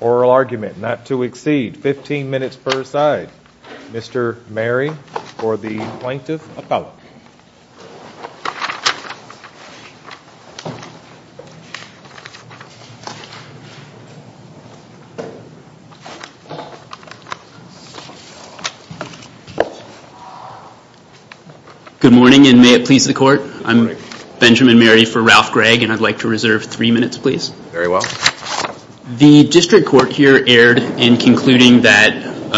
Oral Argument not to exceed 15 minutes per side Mr. Mary for the plaintiff appellate. Good morning and may it please the court. I'm Benjamin Mary for Ralph Gragg and I'd like to reserve three minutes please. Very well. The district court here erred in concluding that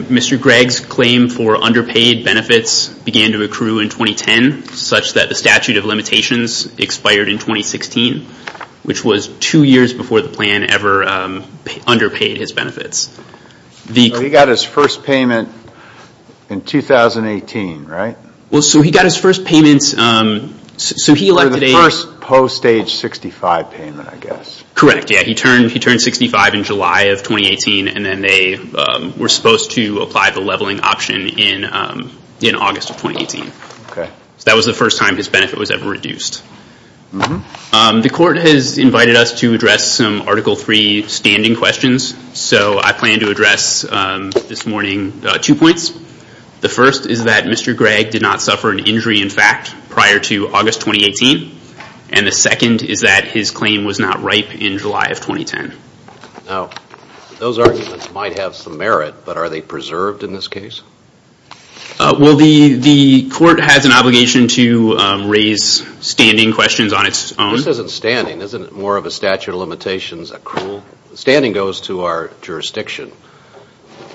Mr. Gragg's claim for underpaid benefits began to accrue in 2010 such that the statute of limitations expired in 2016 which was two years before the plan ever underpaid his benefits. He got his first payment in 2018 right? Well so he got his first payment so he like the first post age 65 payment I guess. Correct yeah he turned he turned 65 in July of 2018 and then they were supposed to apply the leveling option in in August of 2018. Okay so that was the first time his benefit was ever reduced. The court has invited us to address some article three standing questions so I plan to address this morning two points. The first is that Mr. Gragg did not suffer an injury in fact prior to August 2018 and the second is that his claim was not ripe in July of 2010. Now those arguments might have some merit but are they preserved in this case? Well the the court has an obligation to raise standing questions on its own. This isn't standing isn't it more of a statute of limitations accrual? Standing goes to our jurisdiction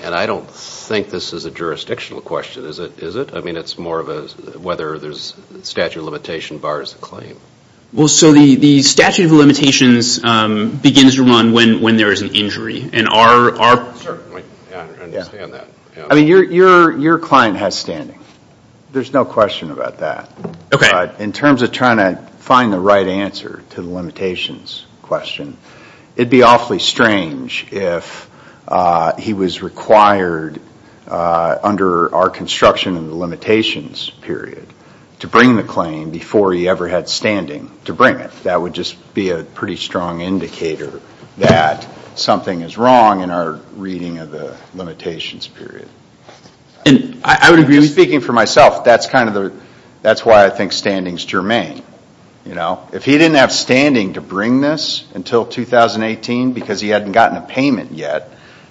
and I don't think this is a jurisdictional question is it is it? I mean it's more of a whether there's statute of limitation bars the claim. Well so the the statute of limitations begins to run when when there is an injury and our I mean your your client has standing there's no question about that. Okay. In terms of trying to find the right answer to the limitations question it'd be awfully strange if he was required under our construction and the limitations period to bring the claim before he ever had standing to bring it. That would just be a pretty strong indicator that something is wrong in our reading of the limitations period. And I would agree speaking for myself that's kind of the that's why I think standing's germane. You know if he didn't have standing to bring this until 2018 because he hadn't gotten a payment yet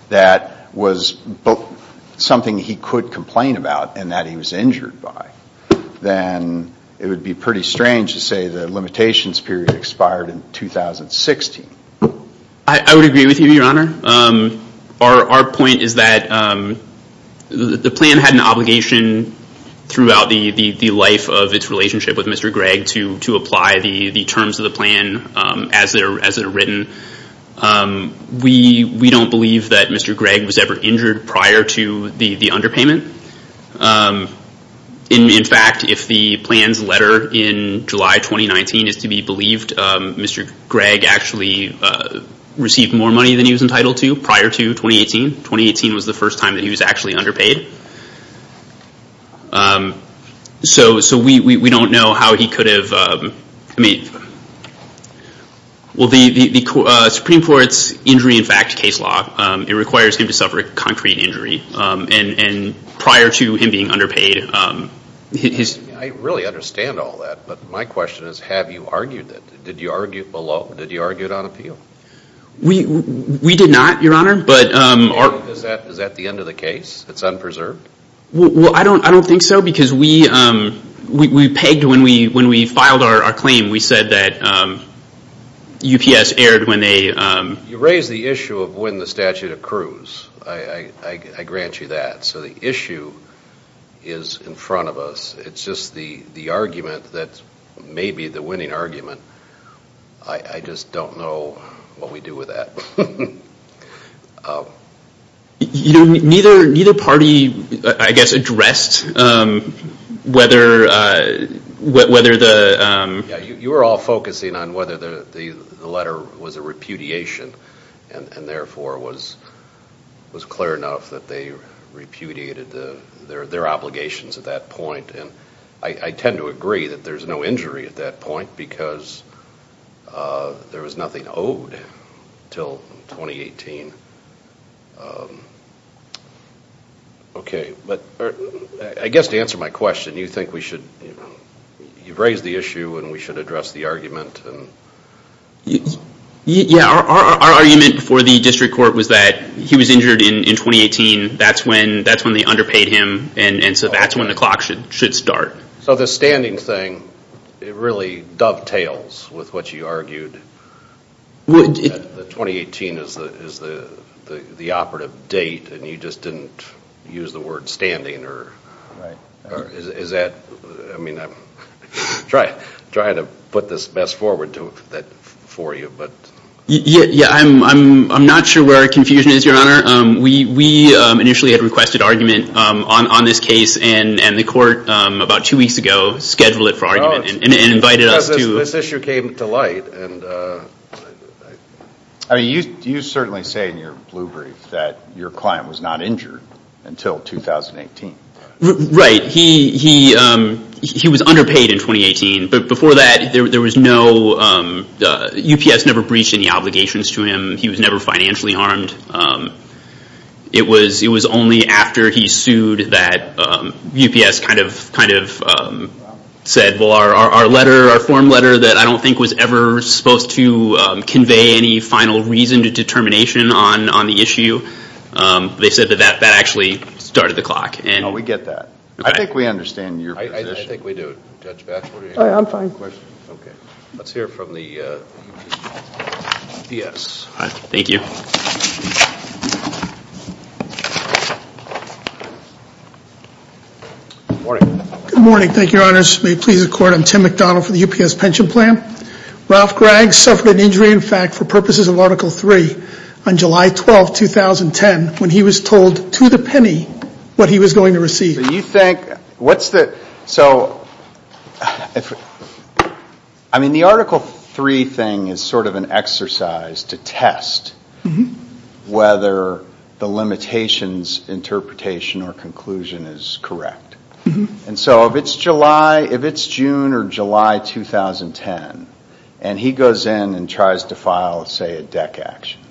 that was something he could complain about and that he was injured by then it would be pretty strange to say the limitations period expired in 2016. I would agree with you your honor. Our our point is that the plan had an obligation throughout the the the life of its relationship with Mr. Gregg to apply the the terms of the plan as they're as it are written. We don't believe that Mr. Gregg was ever injured prior to the the underpayment. In fact if the plan's letter in July 2019 is to be believed Mr. Gregg actually received more money than he was entitled to prior to 2018. 2018 was the first time that he was actually underpaid. So we don't know how he could have I mean well the the Supreme Court's injury in fact case law it requires him to suffer a concrete injury and prior to him being underpaid. I really understand all that but my question is have you argued that? Did you argue it below? Did you argue it on appeal? We did not your honor but is that the end of the case? It's unpreserved? Well I don't I don't think so because we we pegged when we when we filed our claim we said that UPS erred when they... You raise the issue of when the statute accrues. I grant you that. So the issue is in front of us. It's just the the argument that may be the winning argument. I just don't know what we do with that. You know neither party I guess addressed whether the... You were all focusing on whether the letter was a repudiation and therefore was clear enough that they repudiated the their obligations at that point and I tend to agree that there's no injury at that point because there was nothing owed until 2018. Okay but I guess to answer my question you think we should you've raised the issue and we should address the argument? Yeah our argument for the district court was that he was injured in 2018 that's when that's when they underpaid him and and so that's when the clock should should start. So the standing thing it really dovetails with what you argued would the 2018 is the is the the the operative date and you just didn't use the word standing or right or is that I mean I'm trying trying to put this best forward to that for you but. Yeah yeah I'm I'm not sure where our confusion is your honor. We we initially had requested argument on on this case and and the court about two weeks ago scheduled it for argument and invited us. This issue came to light and I mean you you certainly say in your blue brief that your client was not injured until 2018. Right he he he was underpaid in 2018 but before that there was no the UPS never breached any obligations to him he was never financially harmed. It was it was only after he sued that UPS kind of kind of said well our our letter our form letter that I don't think was ever supposed to convey any final reason to determination on on the issue they said that that actually started the clock. And we get that I think we understand your position. I think we do Judge Batchelor. I'm fine. Okay let's hear from the UPS. All right thank you. Good morning. Good morning thank you your honors may it please the court I'm Tim McDonald for the UPS pension plan. Ralph Gregg suffered an injury in fact for purposes of article 3 on July 12, 2010 when he was told to the penny what he was going to receive. Do you think what's the so if I mean the article 3 thing is sort of an exercise to test whether the limitations interpretation or conclusion is correct. And so if it's July if it's June or July 2010 and he goes in and tries to file say a deck action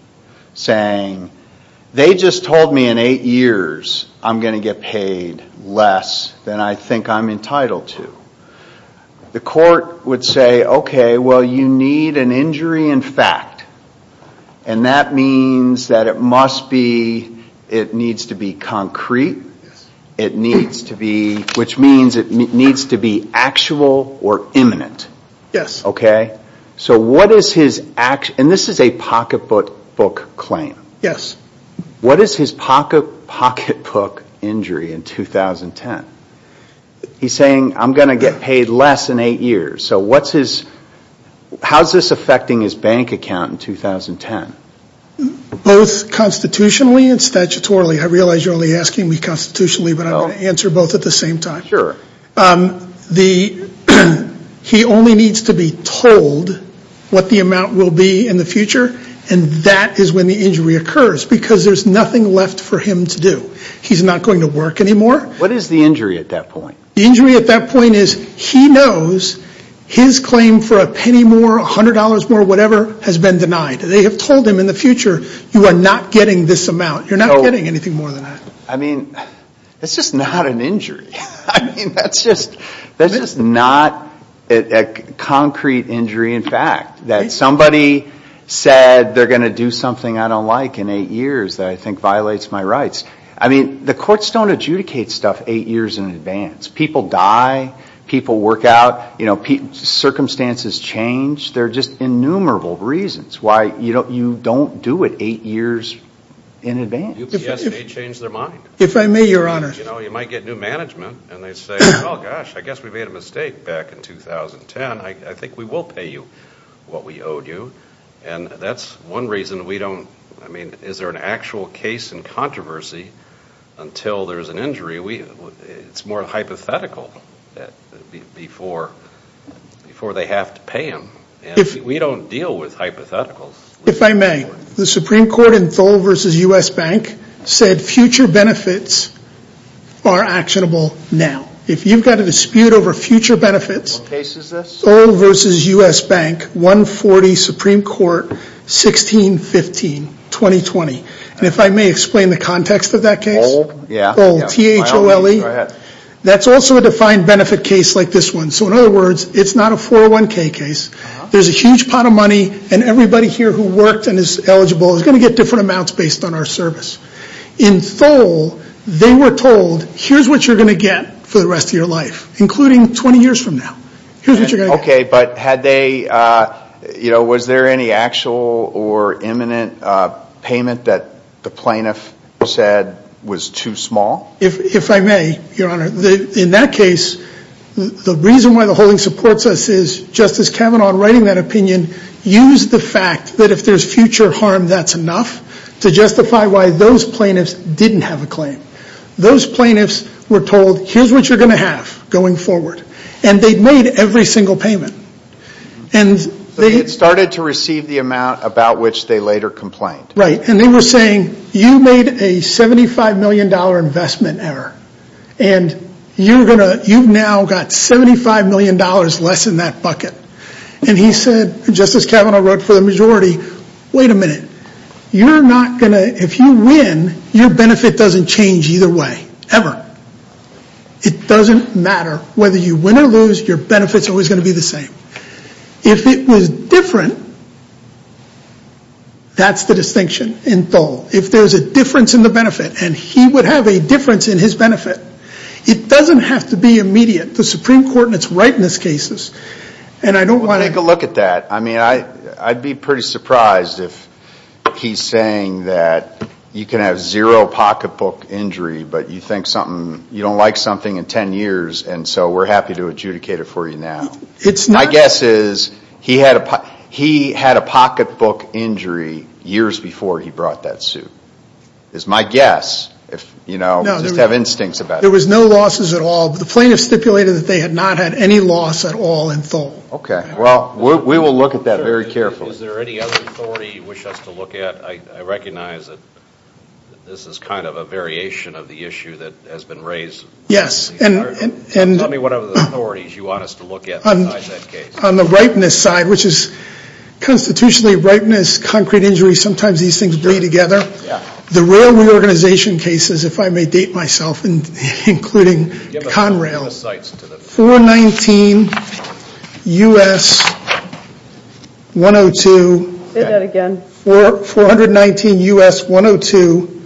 saying they just told me in eight years I'm going to get paid less than I think I'm entitled to. The court would say okay well you need an injury in fact and that means that it must be it needs to be concrete. It needs to be which means it needs to be actual or imminent. Yes. Okay so what is his action and this is a pocketbook claim. Yes. What is his pocketbook injury in 2010? He's saying I'm going to get paid less in eight years so what's his how's this affecting his bank account in 2010? Both constitutionally and statutorily. I realize you're only asking me constitutionally but I'll answer both at the same time. Sure. The he only needs to be told what the amount will be in the future and that is when the injury occurs because there's nothing left for him to do. He's not going to work anymore. What is the injury at that point? The injury at that point is he knows his claim for a penny more a hundred dollars more whatever has been denied. They have told him in the future you are not getting this that's just not a concrete injury in fact that somebody said they're going to do something I don't like in eight years that I think violates my rights. I mean the courts don't adjudicate stuff eight years in advance. People die. People work out. You know circumstances change. There are just innumerable reasons why you don't you don't do it eight years in advance. They change their mind. If I may your honor. You know you might get new management and they say oh gosh I guess we made a mistake back in 2010. I think we will pay you what we owed you and that's one reason we don't I mean is there an actual case in controversy until there's an injury we it's more hypothetical before before they have to pay him and we don't deal with hypotheticals. If I may the Supreme Court in Thole v. U.S. Bank said future benefits are actionable now. If you've got a dispute over future benefits. What case is this? Thole v. U.S. Bank 140 Supreme Court 1615 2020 and if I may explain the context of that case. Thole yeah. That's also a defined benefit case like this one so in other words it's not a 401k case. There's a huge pot of money and everybody here who worked and is eligible is going to get different amounts based on our service. In Thole they were told here's what you're going to get for the rest of your life including 20 years from now. Okay but had they you know was there any actual or imminent payment that the plaintiff said was too small? If I may your honor the in that case the reason why the holding supports us is Justice Kavanaugh writing that opinion used the fact that if there's future harm that's enough to justify why those plaintiffs didn't have a claim. Those plaintiffs were told here's what you're going to have going forward and they made every single payment and they started to receive the amount about which they later complained. Right and they were saying you made a 75 million dollar investment error and you're gonna you've now got 75 million dollars less in that bucket and he said Justice Kavanaugh wrote for the majority wait a minute you're not gonna if you win your benefit doesn't change either way ever. It doesn't matter whether you win or lose your benefits always going to be the same. If it was different that's the distinction in Thole. If there's a difference in the benefit and he would have a difference in his benefit it doesn't have to be immediate. The Supreme Court and it's right in this cases and I don't want to take a look at that I mean I I'd be pretty surprised if he's saying that you can have zero pocketbook injury but you think something you don't like something in 10 years and so we're happy to adjudicate it for you now. It's my guess is he had a he had a pocketbook injury years before he brought that suit. It's my guess if you know just have instincts about it. There was no losses at all the plaintiffs stipulated that they had not had any loss at all in Thole. Okay well we will look at that very carefully. Is there any other authority you wish us to look at? I recognize that this is kind of a variation of the issue that has been raised. Yes and and tell me what other authorities you want us to look at on that case. On the constitutionally ripeness concrete injury sometimes these things bring together. The real reorganization cases if I may date myself and including Conrail 419 US 102. Say that again. 419 US 102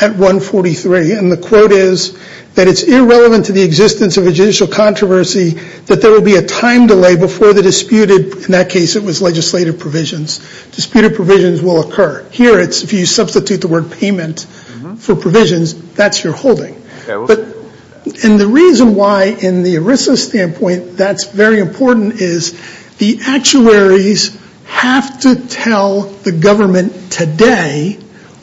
at 143 and the quote is that it's irrelevant to the existence of a judicial controversy that there will be a time delay before the disputed in that case it was legislative provisions. Disputed provisions will occur. Here it's if you substitute the word payment for provisions that's your holding. And the reason why in the ERISA standpoint that's very important is the actuaries have to tell the government today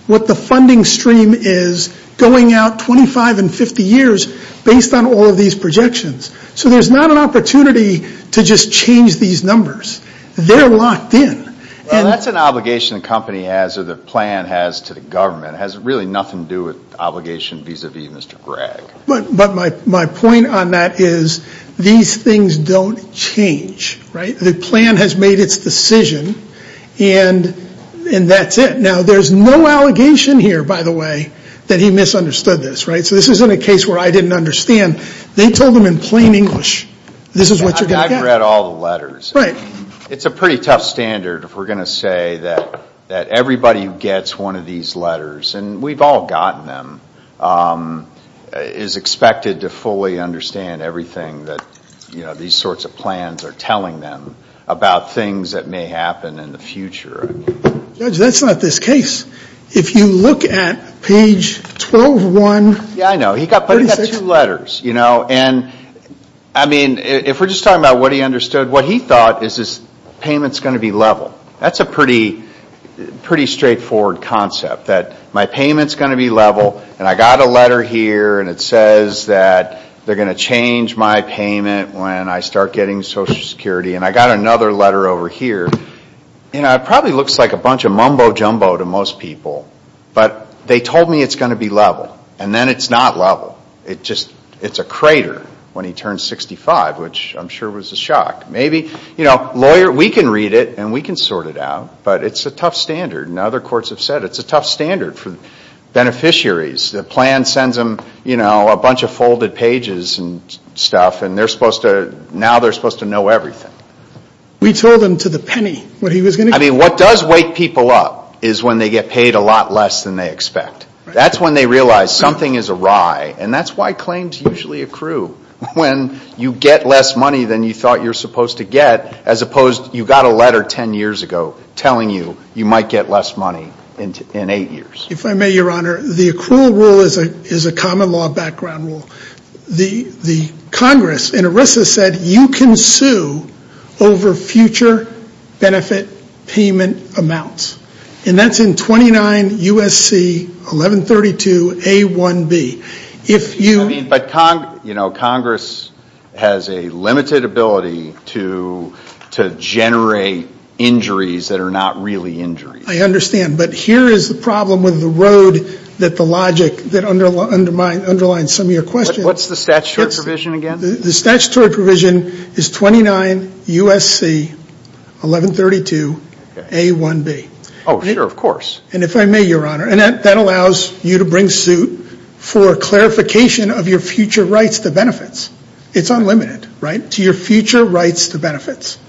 what the funding stream is going out 25 and 50 years based on all of these projections. So there's not an opportunity to just change these numbers. They're locked in. Well that's an obligation the company has or the plan has to the government. It has really nothing to do with obligation vis-a-vis Mr. Gregg. But my point on that is these things don't change. The plan has made its decision and that's it. Now there's no allegation here by the way that he misunderstood this. So this isn't a case where I didn't understand. They told him in plain English this is what you're going to get. I've read all the letters. It's a pretty tough standard if we're going to say that everybody who gets one of these letters and we've all gotten them is expected to fully understand everything that these sorts of you look at page 12-1-36. Yeah, I know. But he got two letters. And if we're just talking about what he understood, what he thought is this payment is going to be level. That's a pretty straightforward concept. That my payment is going to be level and I got a letter here and it says that they're going to change my payment when I start getting Social Security. And I got another letter over here. It probably looks like a bunch of mumbo-jumbo to most people, but they told me it's going to be level. And then it's not level. It's a crater when he turned 65, which I'm sure was a shock. We can read it and we can sort it out, but it's a tough standard. And other courts have said it's a tough standard for beneficiaries. The plan sends them a bunch of folded pages and now they're supposed to know everything. We told him to the penny what he was going to do. I mean, what does wake people up is when they get paid a lot less than they expect. That's when they realize something is awry. And that's why claims usually accrue when you get less money than you thought you're supposed to get, as opposed to you got a letter 10 years ago telling you you might get less money in eight years. If I may, Your Honor, the accrual rule is a common law background rule. Congress in ERISA said you can sue over future benefit payment amounts. And that's in 29 U.S.C. 1132A1B. If you... I mean, but Congress has a limited ability to generate injuries that are not really injuries. I understand. But here is the problem with the road that the logic that underlines some of your questions... What's the statutory provision again? The statutory provision is 29 U.S.C. 1132A1B. Oh, sure, of course. And if I may, Your Honor, and that allows you to bring suit for clarification of your future rights to benefits. It's unlimited, right, to your future rights to benefits.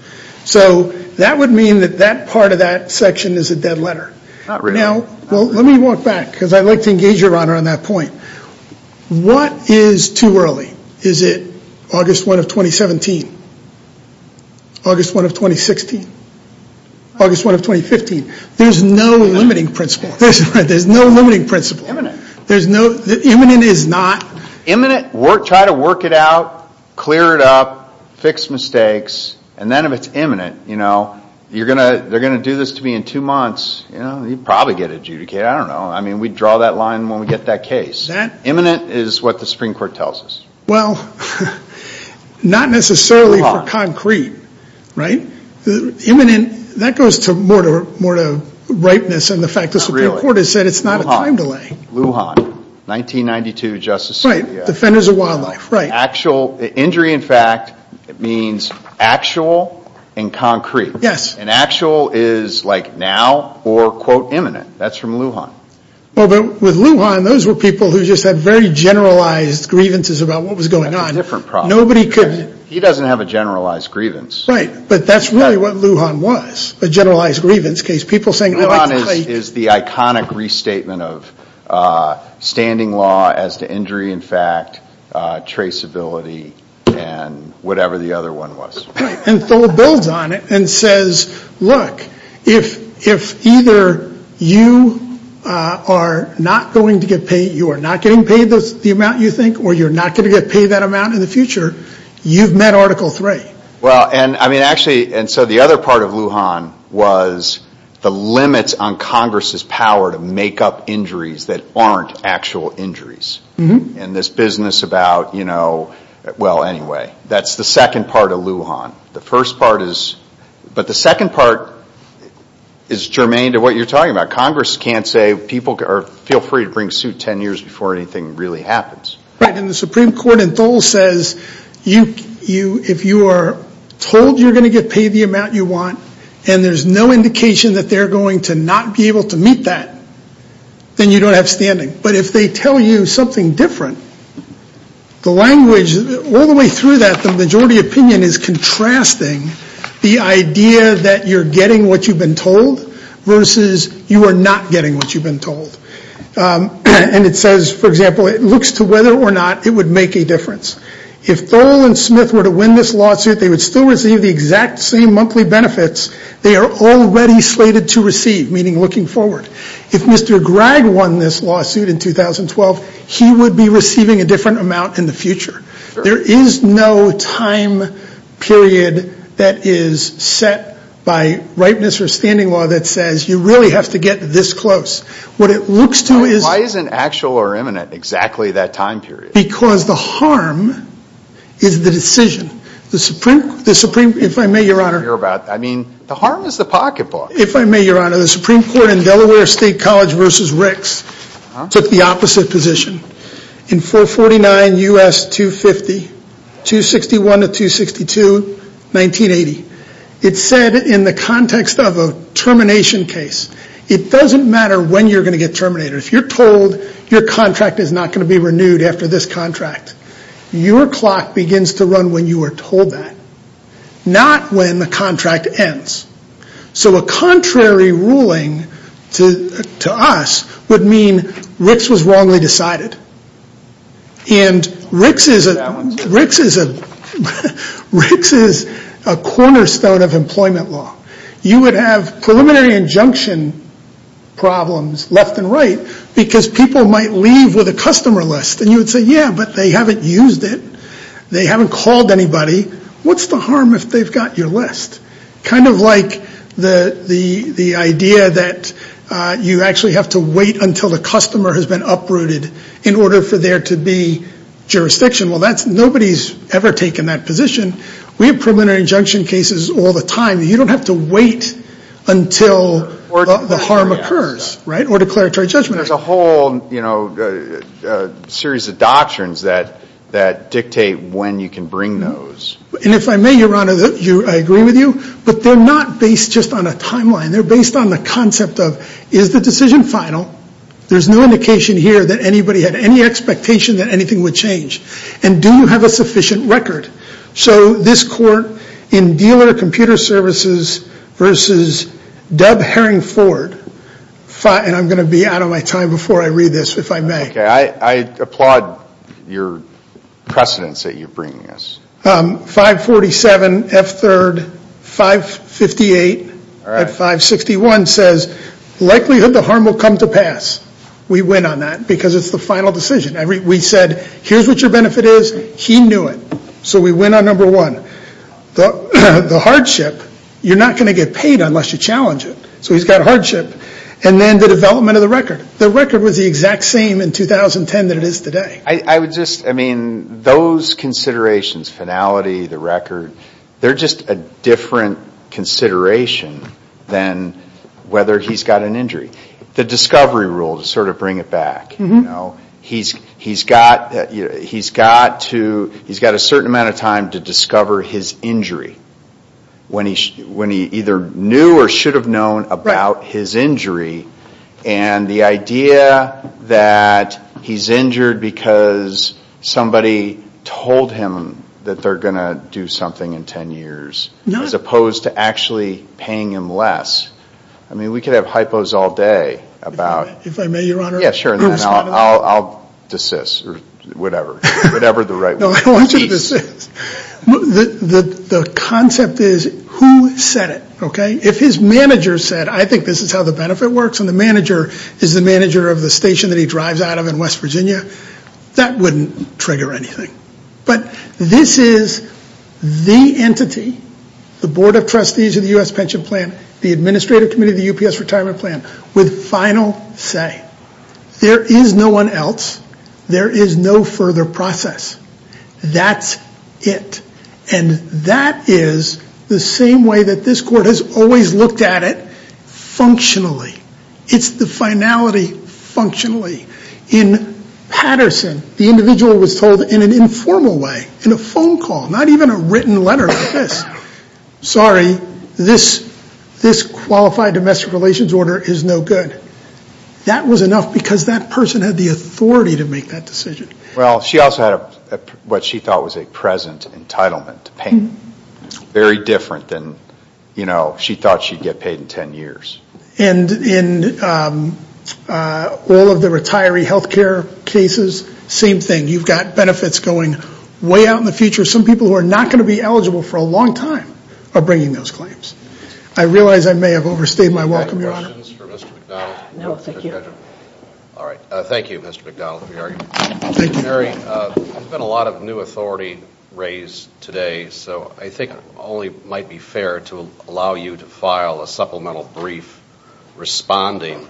So that would mean that that part of that section is a limitation. Let me walk back because I'd like to engage, Your Honor, on that point. What is too early? Is it August 1 of 2017? August 1 of 2016? August 1 of 2015? There's no limiting principle. There's no limiting principle. Imminent. Imminent is not... Imminent, try to work it out, clear it up, fix mistakes. And then if it's imminent, you're going to, they're going to do this to me in two months, you'll probably get adjudicated. I don't know. I mean, we draw that line when we get that case. Imminent is what the Supreme Court tells us. Well, not necessarily for concrete, right? Imminent, that goes to more to ripeness and the fact the Supreme Court has said it's not a time delay. Lujan, 1992, Justice Scalia. Defenders of Wildlife, right. Actual, injury in fact means actual and concrete. Yes. And actual is like now or quote imminent. That's from Lujan. Well, but with Lujan, those were people who just had very generalized grievances about what was going on. That's a different problem. Nobody could... He doesn't have a generalized grievance. Right, but that's really what Lujan was, a generalized grievance case. People saying... Lujan is the iconic restatement of standing law as to injury in fact, traceability, and whatever the other one was. And so it builds on it and says, look, if either you are not going to get paid, you are not getting paid the amount you think, or you're not going to get paid that amount in the future, you've met Article 3. Well, and I mean, actually, and so the other part of Lujan was the limits on Congress's power to make up injuries that aren't actual injuries. And this business about, well, anyway, that's the second part of Lujan. The first part is... But the second part is germane to what you're talking about. Congress can't say, feel free to bring suit 10 years before anything really happens. Right, and the Supreme Court in Dole says, if you are told you're going to get paid the amount you think, then you don't have standing. But if they tell you something different, the language all the way through that, the majority opinion is contrasting the idea that you're getting what you've been told versus you are not getting what you've been told. And it says, for example, it looks to whether or not it would make a difference. If Dole and Smith were to win this lawsuit, they would still receive the exact same monthly benefits they are already slated to receive, meaning looking forward. If Mr. Gregg won this lawsuit in 2012, he would be receiving a different amount in the future. There is no time period that is set by ripeness or standing law that says you really have to get this close. What it looks to is... Why isn't actual or imminent exactly that time period? Because the harm is the decision. The Supreme Court in Delaware State College versus Rick's took the opposite position. In 449 U.S. 250, 261 to 262, 1980, it said in the context of a termination case, it doesn't matter when you're going to get terminated. If you're told your contract is not going to be renewed after this contract, your clock begins to run when you are told that, not when the contract ends. So a contrary ruling to us would mean Rick's was wrongly decided. And Rick's is a cornerstone of employment law. You would have preliminary injunction problems left and right because people might leave with a customer list. And you would say, yeah, but they haven't used it. They haven't called anybody. What's the harm if they've got your list? Kind of like the idea that you actually have to wait until the customer has been uprooted in order for there to be jurisdiction. Well, nobody's ever taken that position. We have preliminary injunction cases all the time. You don't have to wait until the harm occurs or declaratory judgment. There's a whole series of doctrines that dictate when you can bring those. And if I may, Your Honor, I agree with you, but they're not based just on a timeline. They're based on the concept of, is the decision final? There's no indication here that anybody had any expectation that anything would change. And do you have a sufficient record? So this court in computer services versus Deb Herring Ford, and I'm going to be out of my time before I read this, if I may. I applaud your precedence that you're bringing us. 547 F3rd 558 at 561 says, likelihood the harm will come to pass. We win on that because it's the final decision. We said, here's what your benefit is. He knew it. So we win on number one. The hardship, you're not going to get paid unless you challenge it. So he's got a hardship. And then the development of the record. The record was the exact same in 2010 that it is today. I would just, I mean, those considerations, finality, the record, they're just a different consideration than whether he's got an injury. The discovery rule, to sort of bring it back. He's got a certain amount of time to discover his injury when he either knew or should have known about his injury. And the idea that he's injured because somebody told him that they're going to do something in 10 years, as opposed to actually paying him less. I mean, we could have hypos all day about. If I may, your honor. I'll desist, or whatever, whatever the right word is. I want you to desist. The concept is who said it, okay? If his manager said, I think this is how the benefit works, and the manager is the manager of the station that he drives out of in West Virginia, that wouldn't trigger anything. But this is the entity, the Board of Trustees of the U.S. Pension Plan, the Administrative Committee of the UPS Retirement Plan, with final say. There is no one else. There is no further process. That's it. And that is the same way that this court has always looked at it, functionally. It's the finality, functionally. In Patterson, the individual was told in an informal way, in a phone call, not even a written letter like this, sorry, this qualified domestic relations order is no good. That was enough because that person had the authority to make that decision. Well, she also had what she thought was a present entitlement to pay. Very different than, you know, she thought she'd get paid in 10 years. And in all of the retiree health care cases, same thing. You've got benefits going way out in the future. Some people who are not going to be eligible for a long time are bringing those claims. I realize I may have overstayed my welcome, Your Honor. Any questions for Mr. McDonald? No, thank you. All right. Thank you, Mr. McDonald, for your argument. Thank you. Attorney, there's been a lot of new authority raised today, so I think it only might be fair to allow you to file a supplemental brief responding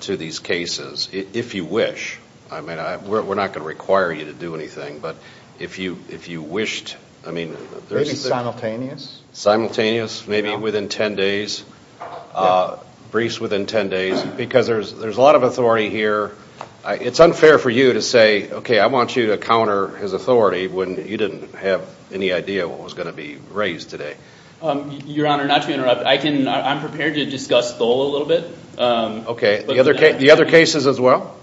to these cases, if you wish. I mean, we're not going to require you to do anything, but if you wished, I mean... Maybe simultaneous. Simultaneous, maybe within 10 days. Briefs within 10 days, because there's a lot of authority here. It's unfair for you to say, okay, I want you to counter his authority, when you didn't have any idea what was going to be raised today. Your Honor, not to interrupt, I can... I'm prepared to discuss Thole a little bit. Okay. The other cases as well?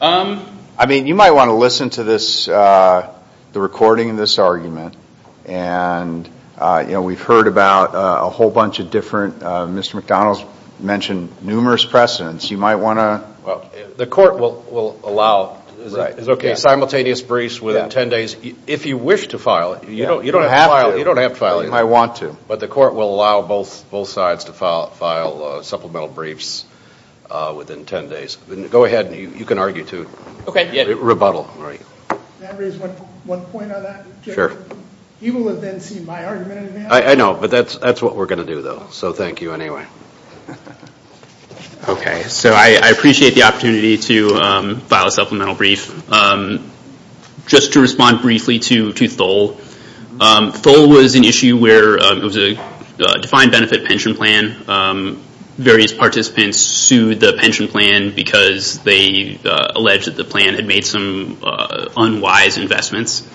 I mean, you might want to listen to this, the recording of this argument. And, you know, we've heard about a whole bunch of different... Mr. McDonald's mentioned numerous precedents. You might want to... Well, the court will allow simultaneous briefs within 10 days, if you wish to file it. You don't have to file it. You might want to. But the court will allow both sides to file supplemental briefs within 10 days. Go ahead, you can argue too. Rebuttal. Can I raise one point on that? Sure. You will have then seen my argument in advance. I know, but that's what we're going to do, so thank you anyway. Okay. So I appreciate the opportunity to file a supplemental brief. Just to respond briefly to Thole. Thole was an issue where it was a defined benefit pension plan. Various participants sued the pension plan because they alleged that the plan had made some unwise investments,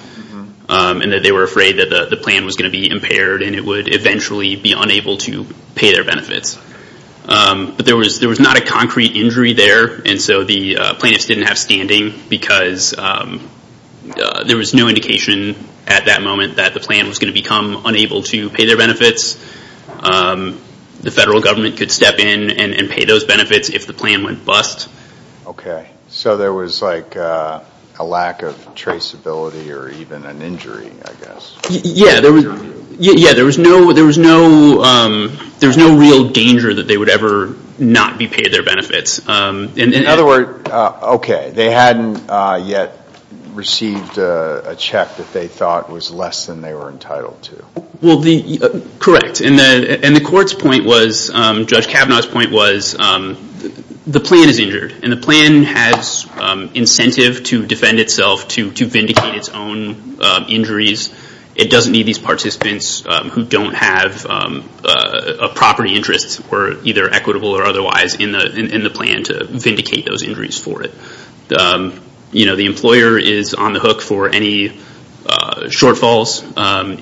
and that they were afraid that the plan was going to be impaired, and it would eventually be unable to pay their benefits. But there was not a concrete injury there, and so the plaintiffs didn't have standing because there was no indication at that moment that the plan was going to become unable to pay their benefits. The federal government could step in and pay those benefits if the plan went bust. Okay. So there was like a lack of traceability, or even an injury, I guess. Yeah, there was no real danger that they would ever not be paid their benefits. In other words, okay, they hadn't yet received a check that they thought was less than they were entitled to. Well, correct. And the court's point was, Judge Kavanaugh's point was, the plan is injured, and the plan has incentive to defend itself to vindicate its own injuries. It doesn't need these participants who don't have a property interest, or either equitable or otherwise, in the plan to vindicate those injuries for it. The employer is on the hook for any shortfalls.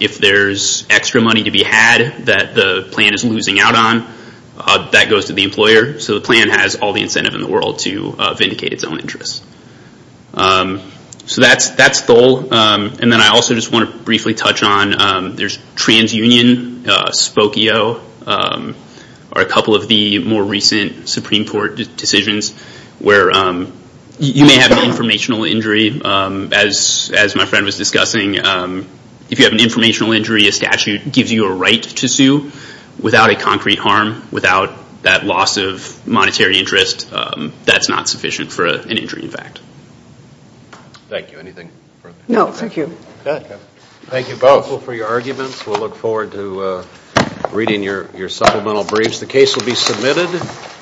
If there's extra money to be had that the plan is losing out on, that goes to the employer. So the plan has all the incentive in the world to That's Thole. And then I also just want to briefly touch on, there's TransUnion, Spokio, are a couple of the more recent Supreme Court decisions where you may have an informational injury, as my friend was discussing. If you have an informational injury, a statute gives you a right to sue without a concrete harm, without that loss of monetary interest. That's not sufficient for an injury, in fact. Thank you. Anything further? No, thank you. Good. Thank you both for your arguments. We'll look forward to reading your supplemental briefs. The case will be submitted.